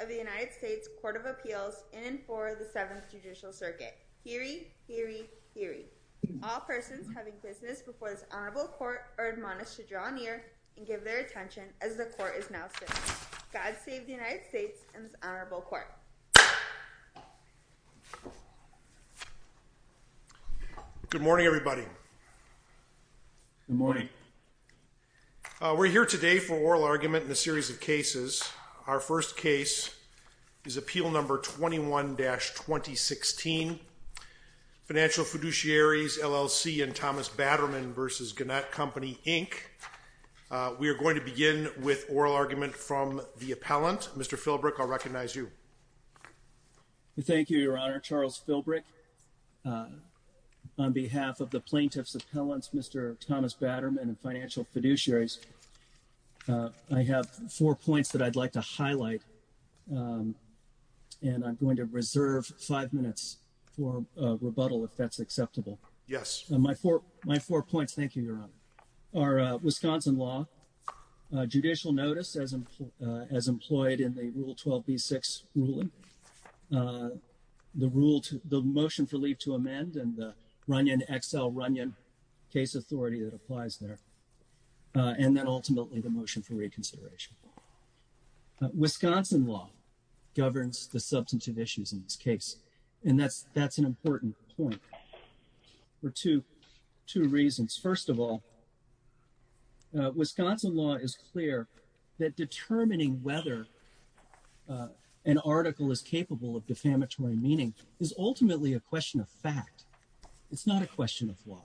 of the United States Court of Appeals in and for the Seventh Judicial Circuit. Heery, heery, heery. All persons having business before this honorable court are admonished to draw near and give their attention as the court is now sitting. God save the United States and this honorable court. Good morning everybody. Good morning. We're here today for oral argument in a series of cases. Our first case is Appeal Number 21-2016, Financial Fiduciaries, LLC, and Thomas Batterman v. Gannett Company, Inc. We are going to begin with oral argument from the appellant. Mr. Filbreck, I'll recognize you. Thank you, Your Honor. Charles Filbreck, on behalf of the Plaintiff's Batterman and Financial Fiduciaries, I have four points that I'd like to highlight and I'm going to reserve five minutes for rebuttal if that's acceptable. Yes. My four, my four points, thank you, Your Honor, are Wisconsin law, judicial notice as employed in the Rule 12b-6 ruling, the rule to, the motion for reconsideration, and then ultimately the motion for reconsideration. Wisconsin law governs the substantive issues in this case and that's, that's an important point for two, two reasons. First of all, Wisconsin law is clear that determining whether an article is capable of defamatory meaning is ultimately a question of law.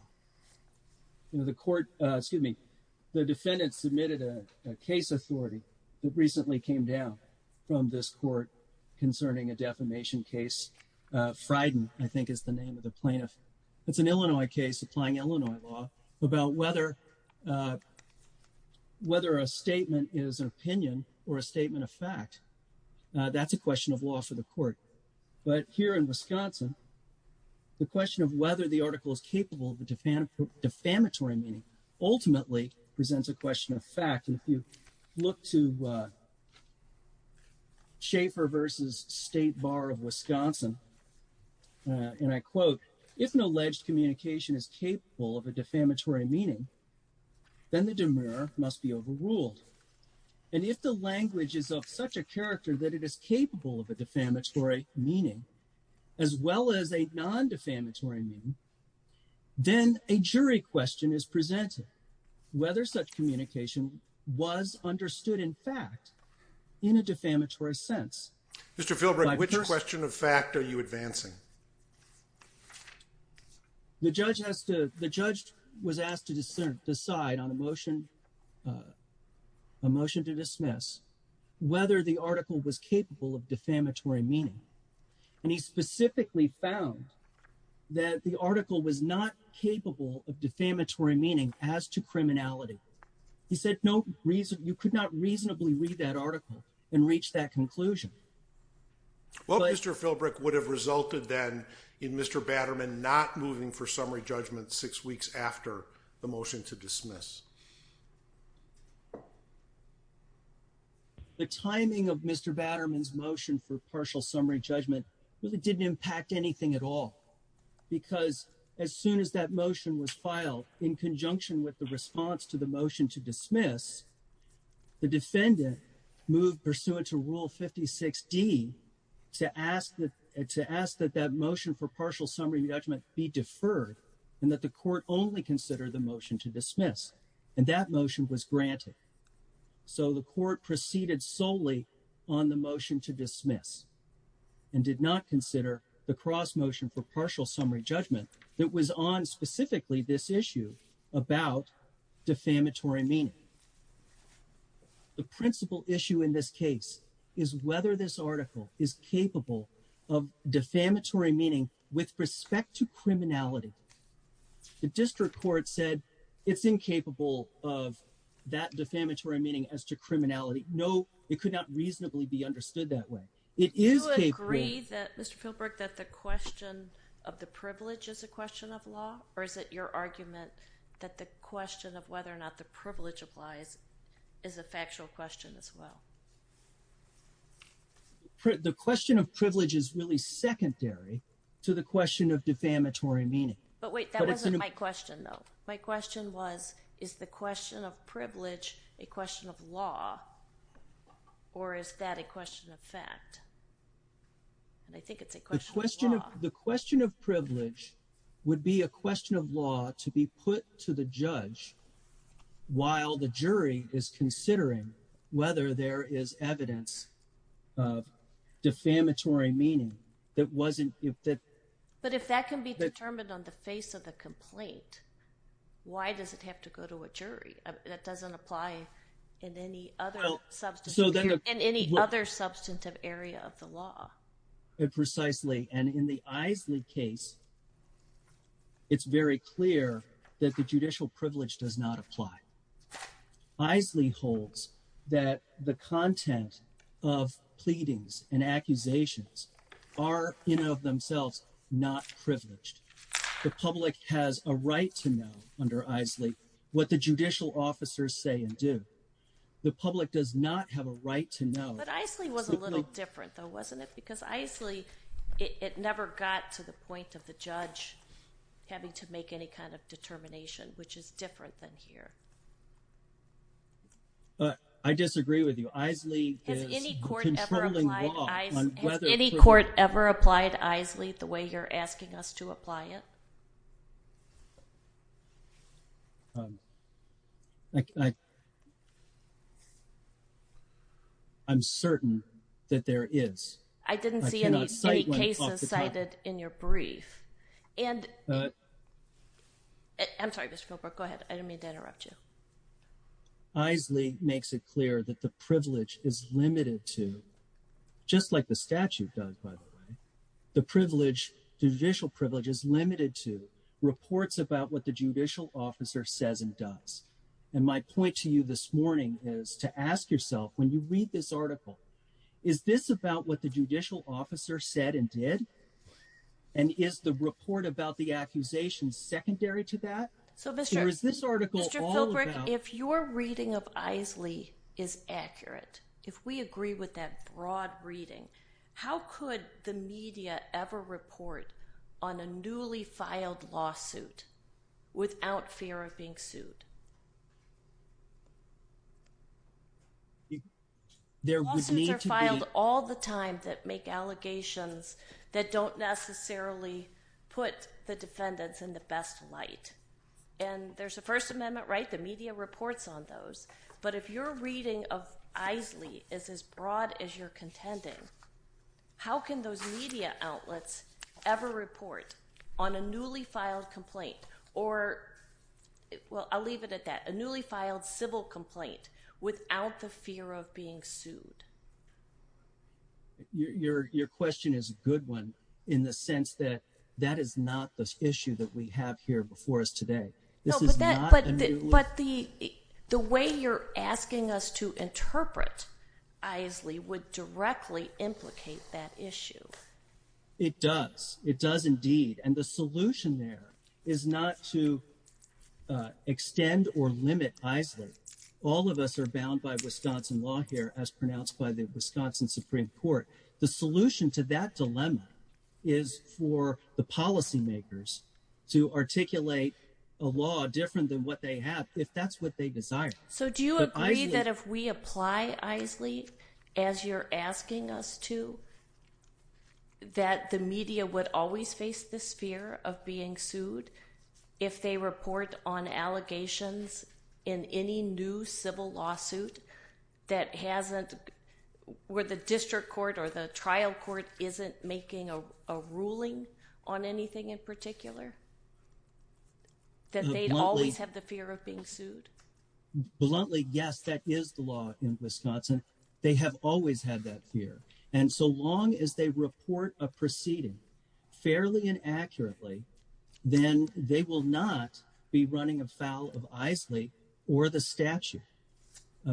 The defendant submitted a case authority that recently came down from this court concerning a defamation case. Fryden, I think, is the name of the plaintiff. It's an Illinois case applying Illinois law about whether, whether a statement is an opinion or a statement of fact. That's a question of law for the court. But here in Wisconsin, the question of whether the article is capable of defamatory meaning ultimately presents a question of fact. And if you look to Schaeffer versus State Bar of Wisconsin, and I quote, if an alleged communication is capable of a defamatory meaning, then the demur must be overruled. And if the language is of such a character that it is capable of a defamatory meaning, as well as a non-defamatory meaning, then a jury question is presented, whether such communication was understood in fact in a defamatory sense. Mr. Philbrick, which question of fact are you advancing? The judge has to, the judge was asked to discern, decide on a motion, a motion to dismiss whether the article was capable of defamatory meaning. And he specifically found that the article was not capable of defamatory meaning as to criminality. He said, no reason, you could not reasonably read that article and reach that conclusion. Well, Mr. Philbrick would have resulted then in Mr. Batterman not moving for summary judgment six weeks after the motion to dismiss. The timing of Mr. Batterman's motion for partial summary judgment really didn't impact anything at all, because as soon as that motion was filed in conjunction with the response to the motion to dismiss, the defendant moved pursuant to rule 56D to ask that, to ask that that motion for partial summary judgment be deferred and that the court only consider the motion to dismiss. And that motion was granted. So the court proceeded solely on the motion to dismiss and did not consider the cross motion for partial summary judgment that was on specifically this issue about defamatory meaning. The principal issue in this case is whether this article is capable of defamatory meaning with respect to criminality. The district court said it's incapable of that defamatory meaning as to criminality. No, it could not reasonably be understood that way. It is capable. Do you agree that, Mr. Philbrick, that the question of the privilege is a question of law or is it your argument that the question of whether or not the privilege applies is a factual question as well? The question of privilege is really secondary to the question of defamatory meaning. But wait, that wasn't my question, though. My question was, is the question of privilege a question of law or is that a question of fact? I think it's a question of law. The question of privilege would be a question of law to be put to the judge while the jury is considering whether there is evidence of defamatory meaning. But if that can be determined on the face of the complaint, why does it have to go to a jury? That doesn't apply in any other substantive area of the law. Precisely. And in the Isley case, it's very clear that the judicial privilege does not apply. Isley holds that the content of pleadings and accusations are, in and of themselves, not privileged. The public has a right to know under Isley what the judicial officers say and do. The public does not have a right to know. But Isley was a little different, though, wasn't it? Because Isley, it never got to the point of the judge having to make any kind of determination, which is different than here. I disagree with you. Isley is a controlling law on whether... Has any court ever applied Isley the way you're asking us to apply it? I'm certain that there is. I did not see any cases cited in your brief. And I'm sorry, Mr. Philbrook, go ahead. I didn't mean to interrupt you. Isley makes it clear that the privilege is limited to, just like the statute does, by the way, the privilege, judicial privilege, is limited to reports about what the judicial officer says and does. And my point to you this morning is to ask yourself, when you read this article, is this about what the judicial officer said and did? And is the report about the accusation secondary to that? So, Mr. Philbrook, if your reading of Isley is accurate, if we agree with that broad reading, how could the media ever report on a newly filed lawsuit without fear of being sued? Lawsuits are filed all the time that make allegations that don't necessarily put the defendants in the best light. And there's a First Amendment, right? The media reports on those. But if your reading of Isley is as broad as you're contending, how can those media outlets ever report on a newly filed complaint or, well, I'll leave it at that, a newly filed civil complaint without the fear of being sued? Your question is a good one in the sense that that is not the issue that we have here before us today. No, but the way you're asking us to it does indeed. And the solution there is not to extend or limit Isley. All of us are bound by Wisconsin law here, as pronounced by the Wisconsin Supreme Court. The solution to that dilemma is for the policymakers to articulate a law different than what they have, if that's what they desire. So do you agree that if we apply Isley as you're asking us to, that the media would always face this fear of being sued if they report on allegations in any new civil lawsuit that hasn't, where the district court or the trial court isn't making a ruling on anything in particular, that they'd always have the fear of being sued? Bluntly, yes, that is the law in Wisconsin. They have always had that fear. And so long as they report a proceeding fairly and accurately, then they will not be running afoul of Isley or the statute.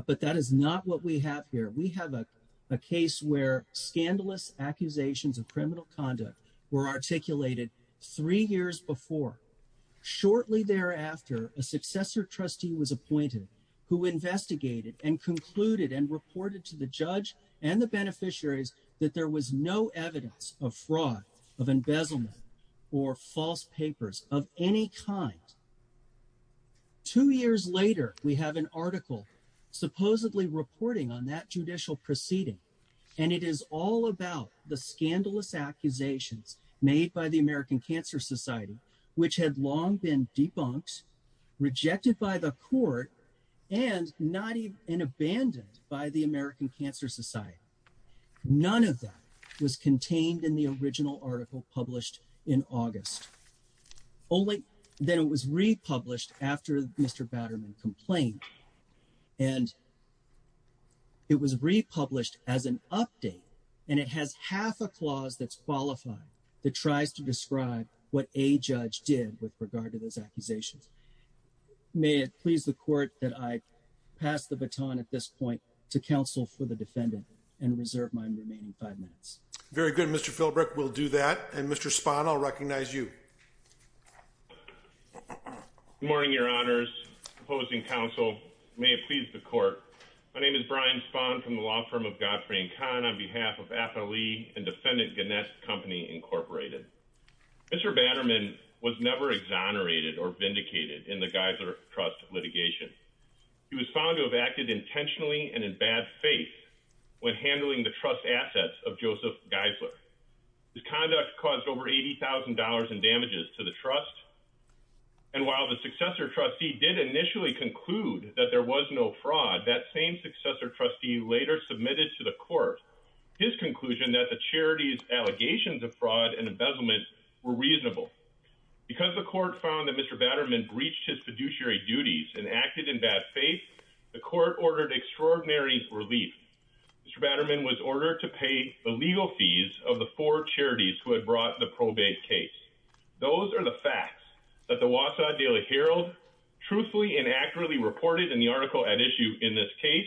But that is not what we have here. We have a case where scandalous accusations of criminal conduct were articulated three years before. Shortly thereafter, a successor trustee was appointed who investigated and concluded and reported to the judge and the beneficiaries that there was no evidence of fraud, of embezzlement, or false papers of any kind. Two years later, we have an article supposedly reporting on that judicial proceeding, and it is all about the scandalous accusations made by the American Cancer Society, which had long been debunked, rejected by the court, and not even abandoned by the American Cancer Society. None of that was contained in the original article published in August. Only then it was republished after Mr. Batterman complained, and it was republished as an update, and it has half a clause that's qualified that tries to describe what a judge did with regard to those accusations. May it please the court that I pass the baton at this point to counsel for the defendant and reserve my remaining five minutes. Very good, Mr. Philbrick. We'll do that. And Mr. Spahn, I'll recognize you. Good morning, your honors. Opposing counsel. May it please the court. My name is Brian Spahn from the law firm of Godfrey & Kahn on behalf of FLE and Defendant Gannett Company, Incorporated. Mr. Batterman was never exonerated or vindicated in the Geisler Trust litigation. He was found to have acted intentionally and in bad faith when handling the trust assets of Joseph Geisler. His conduct caused over $80,000 in damages to the trust, and while the successor trustee did initially conclude that there was no fraud, that same successor trustee later submitted to the court his conclusion that the charity's allegations of fraud and embezzlement were reasonable. Because the court found that Mr. Batterman breached his fiduciary duties and acted in bad faith, the court ordered extraordinary relief. Mr. Batterman was ordered to pay the legal fees of the four charities who had brought the probate case. Those are the facts that the Wausau Daily Herald truthfully and accurately reported in the article at issue in this case,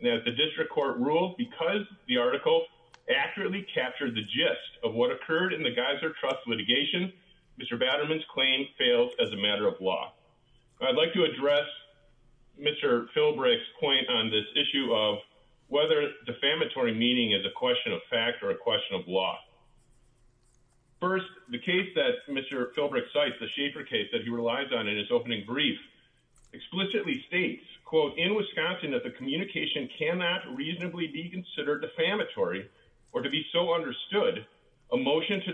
and as the district court ruled, because the article accurately captured the gist of what occurred in the Geisler Trust litigation, Mr. Batterman's claim failed as a matter of law. I'd like to address Mr. Philbrick's point on this issue of whether defamatory meaning is a question of fact or a question of law. First, the case that Mr. Philbrick cites, the Schaefer case that he relies on in his opening brief, explicitly states, quote, in Wisconsin that the communication cannot reasonably be considered defamatory or to be so understood, a motion to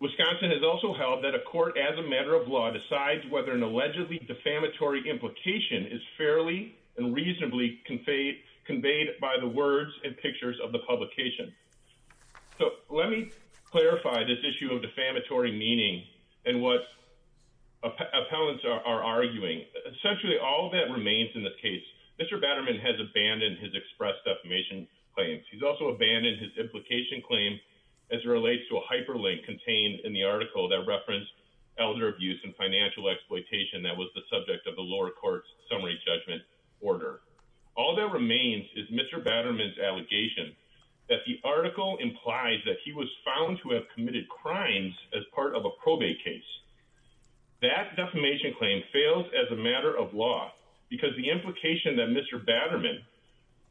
Wisconsin has also held that a court as a matter of law decides whether an allegedly defamatory implication is fairly and reasonably conveyed by the words and pictures of the publication. So let me clarify this issue of defamatory meaning and what appellants are arguing. Essentially all that remains in this case, Mr. Batterman has abandoned his express defamation claims. He's abandoned his implication claim as it relates to a hyperlink contained in the article that referenced elder abuse and financial exploitation that was the subject of the lower court's summary judgment order. All that remains is Mr. Batterman's allegation that the article implies that he was found to have committed crimes as part of a probate case. That defamation claim fails as a matter of law because the implication that Mr. Batterman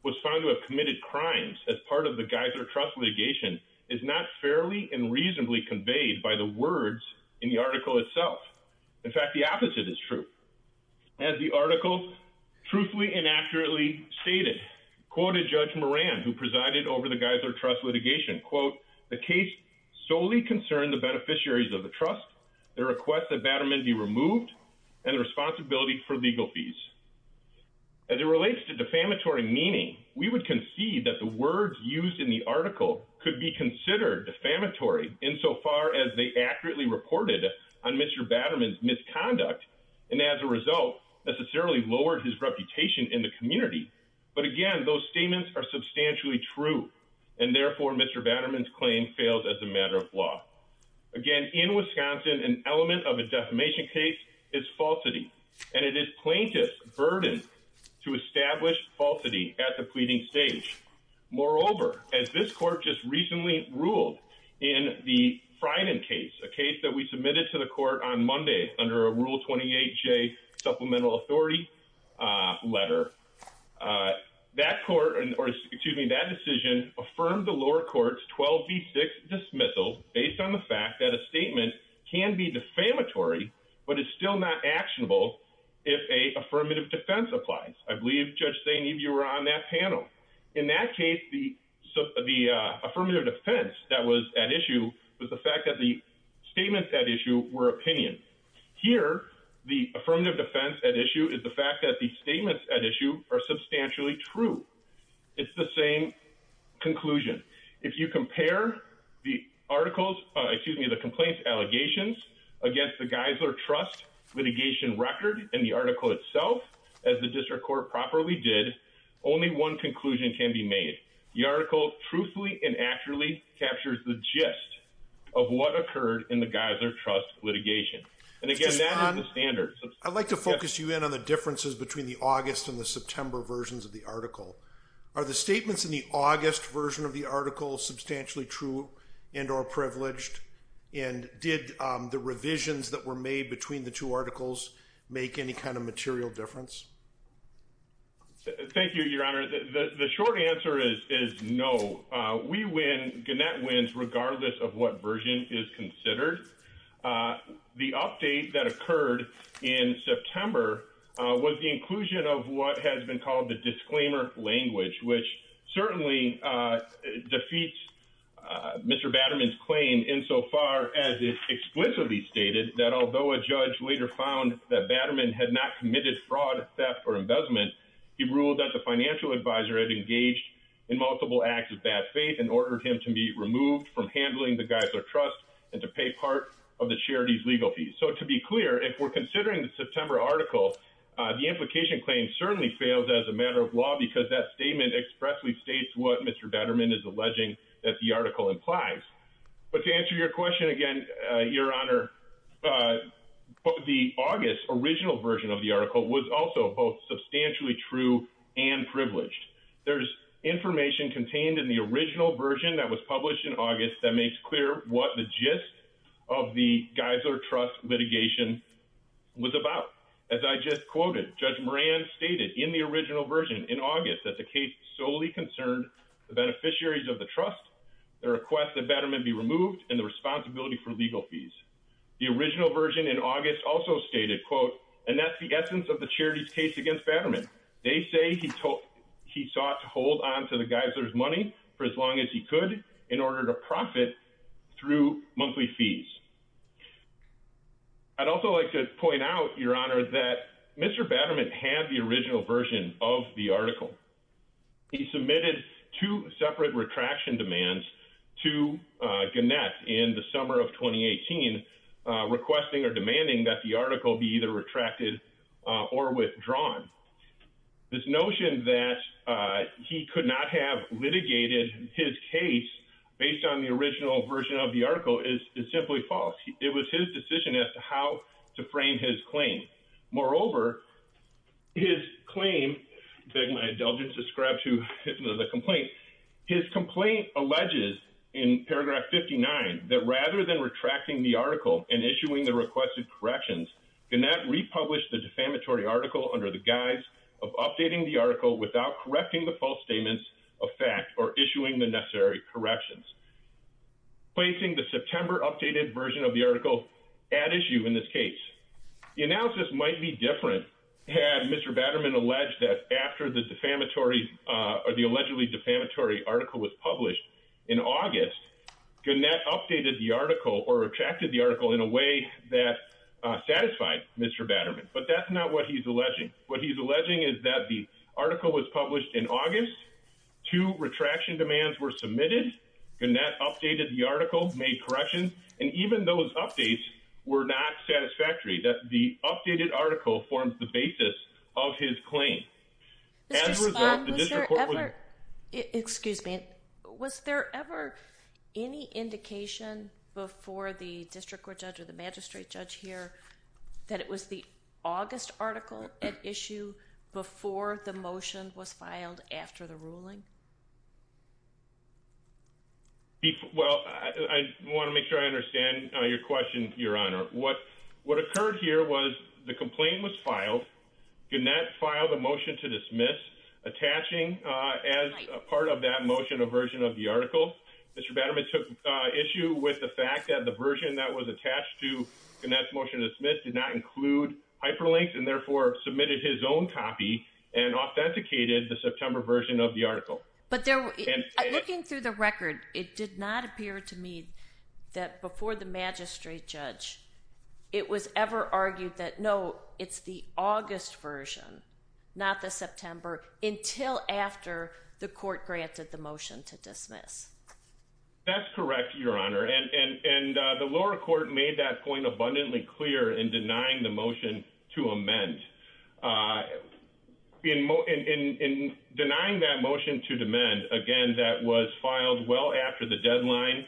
was found to have committed crimes as part of the Geyser Trust litigation is not fairly and reasonably conveyed by the words in the article itself. In fact, the opposite is true. As the article truthfully and accurately stated, quoted Judge Moran who presided over the Geyser Trust litigation, quote, the case solely concerned the beneficiaries of the trust, the request that Batterman be removed, and the responsibility for in the article could be considered defamatory insofar as they accurately reported on Mr. Batterman's misconduct and as a result necessarily lowered his reputation in the community. But again, those statements are substantially true and therefore Mr. Batterman's claim fails as a matter of law. Again, in Wisconsin an element of a defamation case is falsity and it is plaintiff's to establish falsity at the pleading stage. Moreover, as this court just recently ruled in the Fryden case, a case that we submitted to the court on Monday under a Rule 28J Supplemental Authority letter, that court, or excuse me, that decision affirmed the lower court's 12B6 dismissal based on the fact that a statement can be defamatory but is still not defamatory. In that case, the affirmative defense that was at issue was the fact that the statements at issue were opinions. Here, the affirmative defense at issue is the fact that the statements at issue are substantially true. It's the same conclusion. If you compare the articles, excuse me, the complaints allegations against the Geyser Trust litigation record and article itself as the district court properly did, only one conclusion can be made. The article truthfully and actually captures the gist of what occurred in the Geyser Trust litigation. And again, that is the standard. I'd like to focus you in on the differences between the August and the September versions of the article. Are the statements in the August version of the article substantially true and or privileged? And did the revisions that were made between the two articles make any kind of material difference? Thank you, your honor. The short answer is no. We win, Gannett wins, regardless of what version is considered. The update that occurred in September was the inclusion of what has been called the disclaimer language, which certainly defeats Mr. Batterman's claim insofar as it explicitly stated that although a judge later found that Batterman had not committed fraud, theft, or embezzlement, he ruled that the financial advisor had engaged in multiple acts of bad faith and ordered him to be removed from handling the Geyser Trust and to pay part of the charity's legal fees. So to be clear, if we're considering the September article, the implication claim certainly fails as a matter of law because that the article implies. But to answer your question again, your honor, the August original version of the article was also both substantially true and privileged. There's information contained in the original version that was published in August that makes clear what the gist of the Geyser Trust litigation was about. As I just quoted, Judge Moran stated in the original version in August that the case solely concerned the beneficiaries of the trust, the request that Batterman be removed, and the responsibility for legal fees. The original version in August also stated, quote, and that's the essence of the charity's case against Batterman. They say he sought to hold on to the Geyser's money for as long as he could in order to profit through monthly fees. I'd also like to point out, your honor, that Mr. Batterman had the original version of the article. He submitted two separate retraction demands to Gannett in the summer of 2018, requesting or demanding that the article be either retracted or withdrawn. This notion that he could not have litigated his case based on the original version of the article is simply false. It was his decision as to how to frame his claim. Moreover, his claim that my indulgence described to the complaint, his complaint alleges in paragraph 59 that rather than retracting the article and issuing the requested corrections, Gannett republished the defamatory article under the guise of updating the article without correcting the false statements of fact or issuing the article at issue in this case. The analysis might be different had Mr. Batterman alleged that after the defamatory or the allegedly defamatory article was published in August, Gannett updated the article or retracted the article in a way that satisfied Mr. Batterman. But that's not what he's alleging. What he's alleging is that the article was published in August, two retraction demands were submitted, Gannett updated the article, made corrections, and even those updates were not satisfactory. That the updated article forms the basis of his claim. Excuse me, was there ever any indication before the district court judge or the magistrate judge here that it was the August article at issue before the motion was filed after the ruling? Well, I want to make sure I understand your question, Your Honor. What occurred here was the complaint was filed, Gannett filed a motion to dismiss attaching as a part of that motion a version of the article. Mr. Batterman took issue with the fact that the version that was attached to Gannett's motion to dismiss did not include hyperlinks and therefore submitted his own copy and authenticated the record. It did not appear to me that before the magistrate judge, it was ever argued that no, it's the August version, not the September until after the court granted the motion to dismiss. That's correct, Your Honor. And the lower court made that point abundantly clear in denying the filed well after the deadline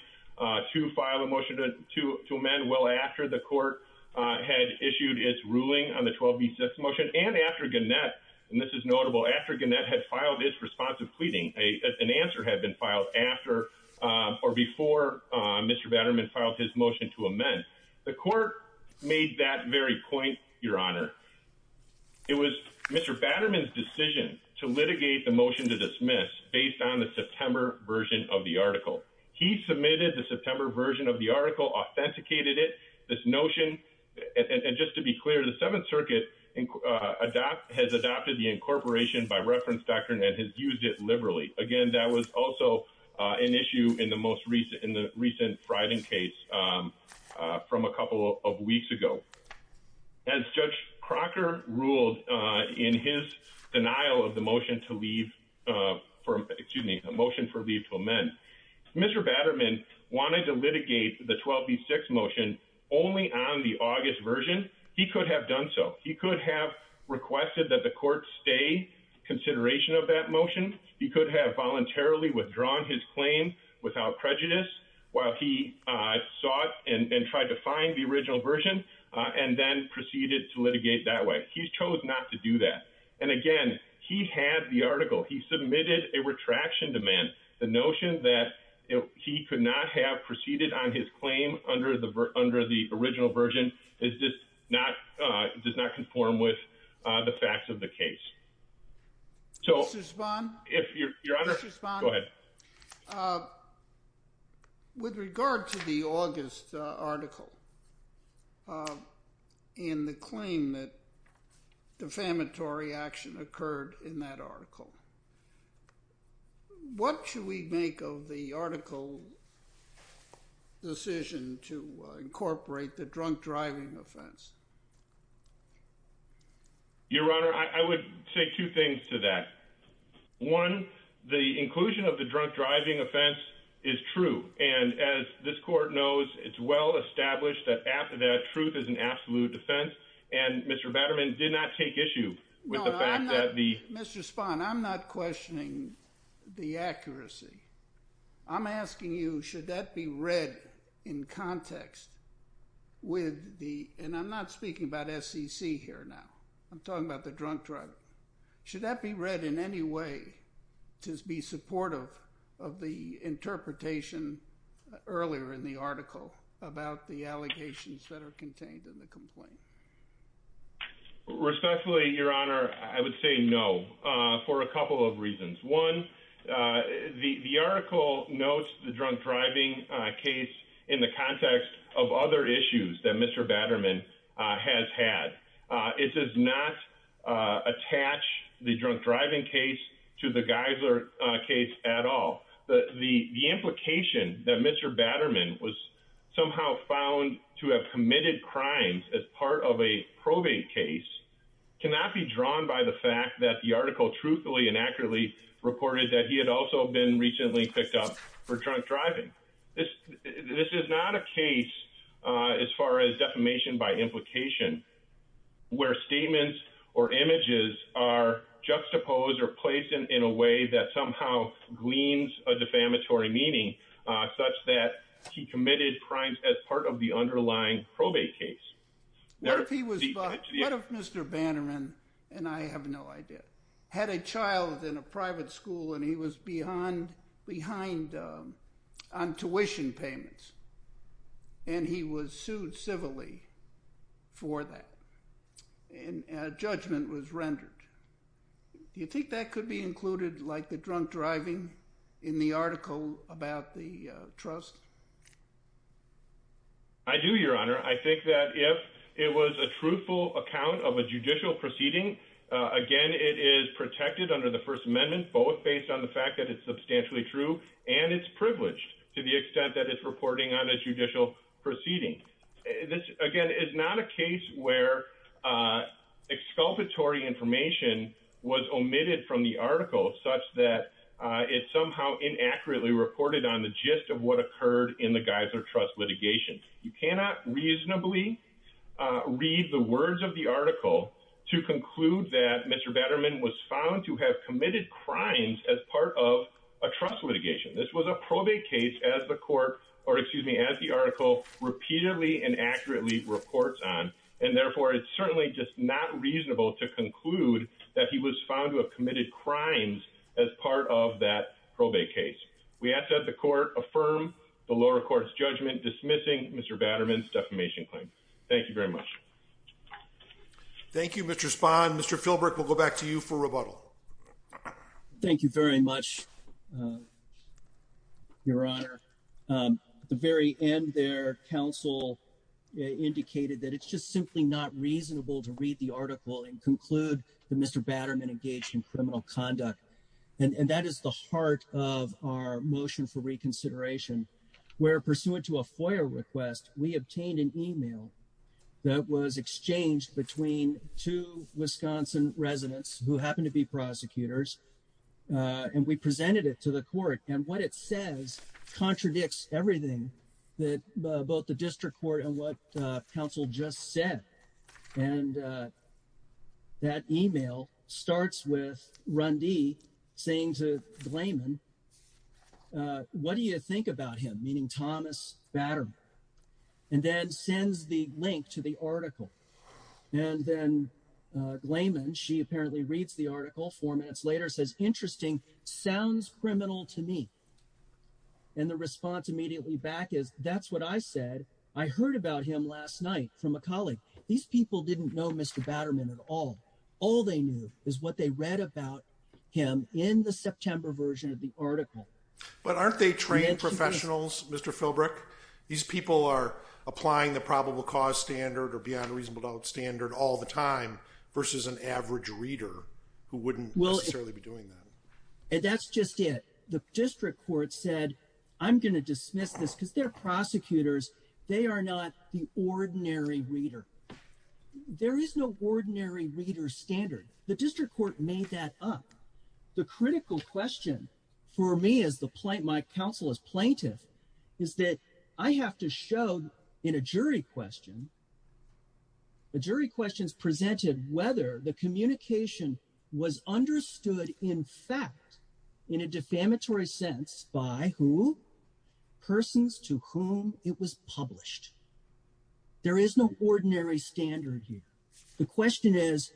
to file a motion to amend well after the court had issued its ruling on the 12b6 motion and after Gannett, and this is notable, after Gannett had filed his responsive pleading, an answer had been filed after or before Mr. Batterman filed his motion to amend. The court made that very point, Your Honor. It was Mr. Batterman's decision to litigate the motion to dismiss based on the September version of the article. He submitted the September version of the article, authenticated it, this notion, and just to be clear, the Seventh Circuit has adopted the incorporation by reference doctrine and has used it liberally. Again, that was also an issue in the most recent, in the recent Fryden case from a couple of weeks ago. As Judge Crocker ruled in his denial of the motion to leave, excuse me, the motion for leave to amend, Mr. Batterman wanted to litigate the 12b6 motion only on the August version. He could have done so. He could have requested that the court stay in consideration of that motion. He could have voluntarily withdrawn his claim without prejudice while he sought and tried to find the original version and then proceeded to litigate that way. He chose not to do that. And again, he had the article. He submitted a retraction demand. The notion that he could not have proceeded on his claim under the original version does not conform with the facts of the case. Mr. Spahn? Your Honor, go ahead. With regard to the August article and the claim that defamatory action occurred in that article, what should we make of the article decision to incorporate the drunk driving offense? Your Honor, I would say two things to that. One, the inclusion of the drunk driving offense is true. And as this court knows, it's well established that after that, truth is an absolute defense. And Mr. Batterman did not take issue with the fact that the... No, I'm not... Mr. Spahn, I'm not questioning the accuracy. I'm asking you, should that be read in context with the... And I'm not speaking about SEC here now. I'm talking about the drunk driving. Should that be read in any way to be supportive of the interpretation earlier in the article about the allegations that are contained in the complaint? Respectfully, Your Honor, I would say no for a couple of reasons. One, the article notes the drunk driving case in the context of other issues that Mr. Batterman has had. It does not attach the drunk driving case to the Geisler case at all. The implication that Mr. Batterman was somehow found to have committed crimes as part of a probate case cannot be drawn by the fact that the article truthfully and accurately reported that he had also been recently picked up for drunk driving. This is not a case, as far as defamation by implication, where statements or images are juxtaposed or placed in a way that somehow gleans a defamatory meaning such that he committed crimes as part of the and I have no idea. Had a child in a private school and he was behind on tuition payments and he was sued civilly for that and a judgment was rendered. Do you think that could be included like the drunk driving in the article about the trust? I do, Your Honor. I think that if it was a truthful account of a judicial proceeding, again, it is protected under the First Amendment, both based on the fact that it's substantially true and it's privileged to the extent that it's reporting on a judicial proceeding. This, again, is not a case where exculpatory information was omitted from the article such that it somehow inaccurately reported on the gist of what occurred in the Geiser Trust litigation. You cannot reasonably read the words of the article to conclude that Mr. Batterman was found to have committed crimes as part of a trust litigation. This was a probate case as the court, or excuse me, as the article repeatedly and accurately reports on, and therefore it's certainly just not reasonable to conclude that he was found to have committed crimes as part of that case. We ask that the court affirm the lower court's judgment dismissing Mr. Batterman's defamation claim. Thank you very much. Thank you, Mr. Spahn. Mr. Philbrook, we'll go back to you for rebuttal. Thank you very much, Your Honor. The very end there, counsel indicated that it's just simply not reasonable to read the article and conclude that Mr. Batterman engaged in criminal conduct, and that is the heart of our motion for reconsideration where, pursuant to a FOIA request, we obtained an email that was exchanged between two Wisconsin residents who happen to be prosecutors, and we presented it to the court, and what it says contradicts everything that both the district court and what counsel just said, and that email starts with Rundee saying to Gleyman, what do you think about him, meaning Thomas Batterman, and then sends the link to the article, and then Gleyman, she apparently reads the article four minutes later, says, interesting, sounds criminal to me, and the response immediately back is, that's what I said. I heard about him last night from a colleague. These people didn't know Mr. Batterman at all. All they knew is what they read about him in the September version of the article. But aren't they trained professionals, Mr. Philbrook? These people are applying the probable cause standard or beyond reasonable doubt standard all the time versus an average reader who wouldn't necessarily be doing that. And that's just it. The district court said, I'm going to dismiss this because they're prosecutors. They are not the ordinary reader. There is no ordinary reader standard. The district court made that up. The critical question for me as my counsel as plaintiff is that I have to show in a jury question, the jury questions presented whether the communication was understood in fact in a defamatory sense by who? Persons to whom it was published. There is no ordinary standard here. The question is,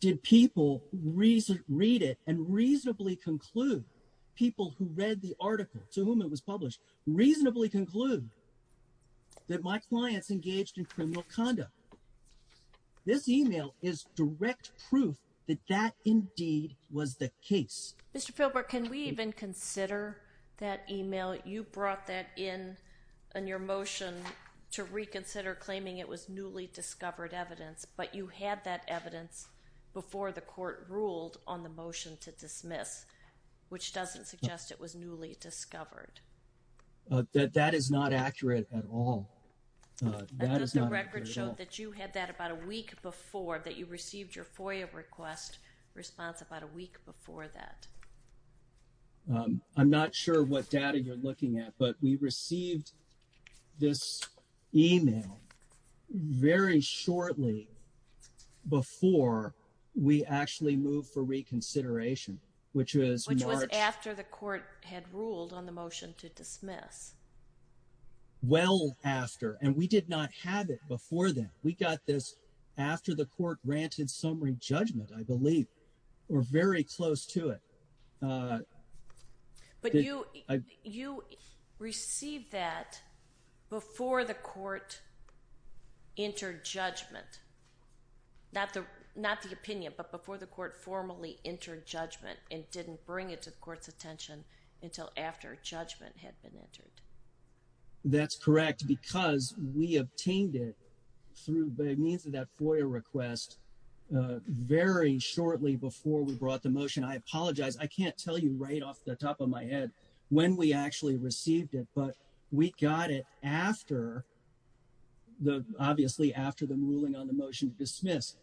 did people read it and reasonably conclude, people who read the article to whom it was published, reasonably conclude that my clients engaged in criminal conduct? This email is direct proof that that indeed was the case. Mr. Philbrook, can we even consider that email? You brought that in on your motion to reconsider claiming it was newly discovered evidence, but you had that evidence before the court ruled on the motion to dismiss, which doesn't suggest it was newly discovered. That is not accurate at all. The record showed that you had that about a week before that you received your FOIA request response about a week before that. I'm not sure what data you're looking at, but we received this email very shortly before we actually moved for reconsideration, which was after the court had ruled on the motion to dismiss. Well after, and we did not have it before then. We got this after the court granted summary judgment, I believe, or very close to it. But you received that before the court entered judgment. Not the opinion, but before the court formally entered judgment and didn't bring it to the court's attention until after judgment had been entered. That's correct, because we obtained it through the means of that FOIA request very shortly before we brought the motion. I apologize, I can't tell you right off the top of my head when we actually received it, but we got it obviously after the ruling on the motion to dismiss.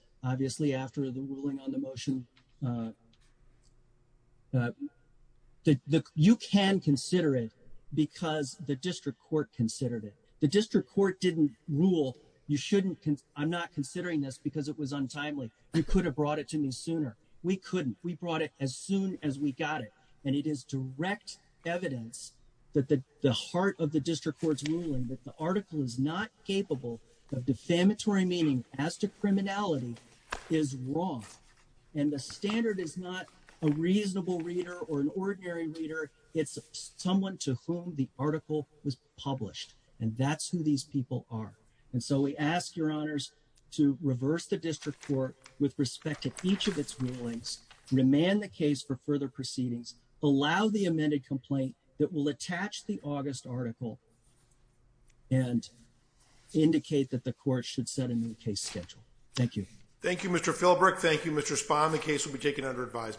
You can consider it because the district court considered it. The district court didn't rule, I'm not considering this because it was untimely. You could have brought it to me sooner. We couldn't. We brought it as we got it. And it is direct evidence that the heart of the district court's ruling that the article is not capable of defamatory meaning as to criminality is wrong. And the standard is not a reasonable reader or an ordinary reader, it's someone to whom the article was published. And that's who these people are. And so we ask your honors to reverse the district court with respect to each of its rulings, remand the case for further proceedings, allow the amended complaint that will attach the August article and indicate that the court should set a new case schedule. Thank you. Thank you, Mr. Philbrook. Thank you, Mr. Spahn. The case will be taken under advisement.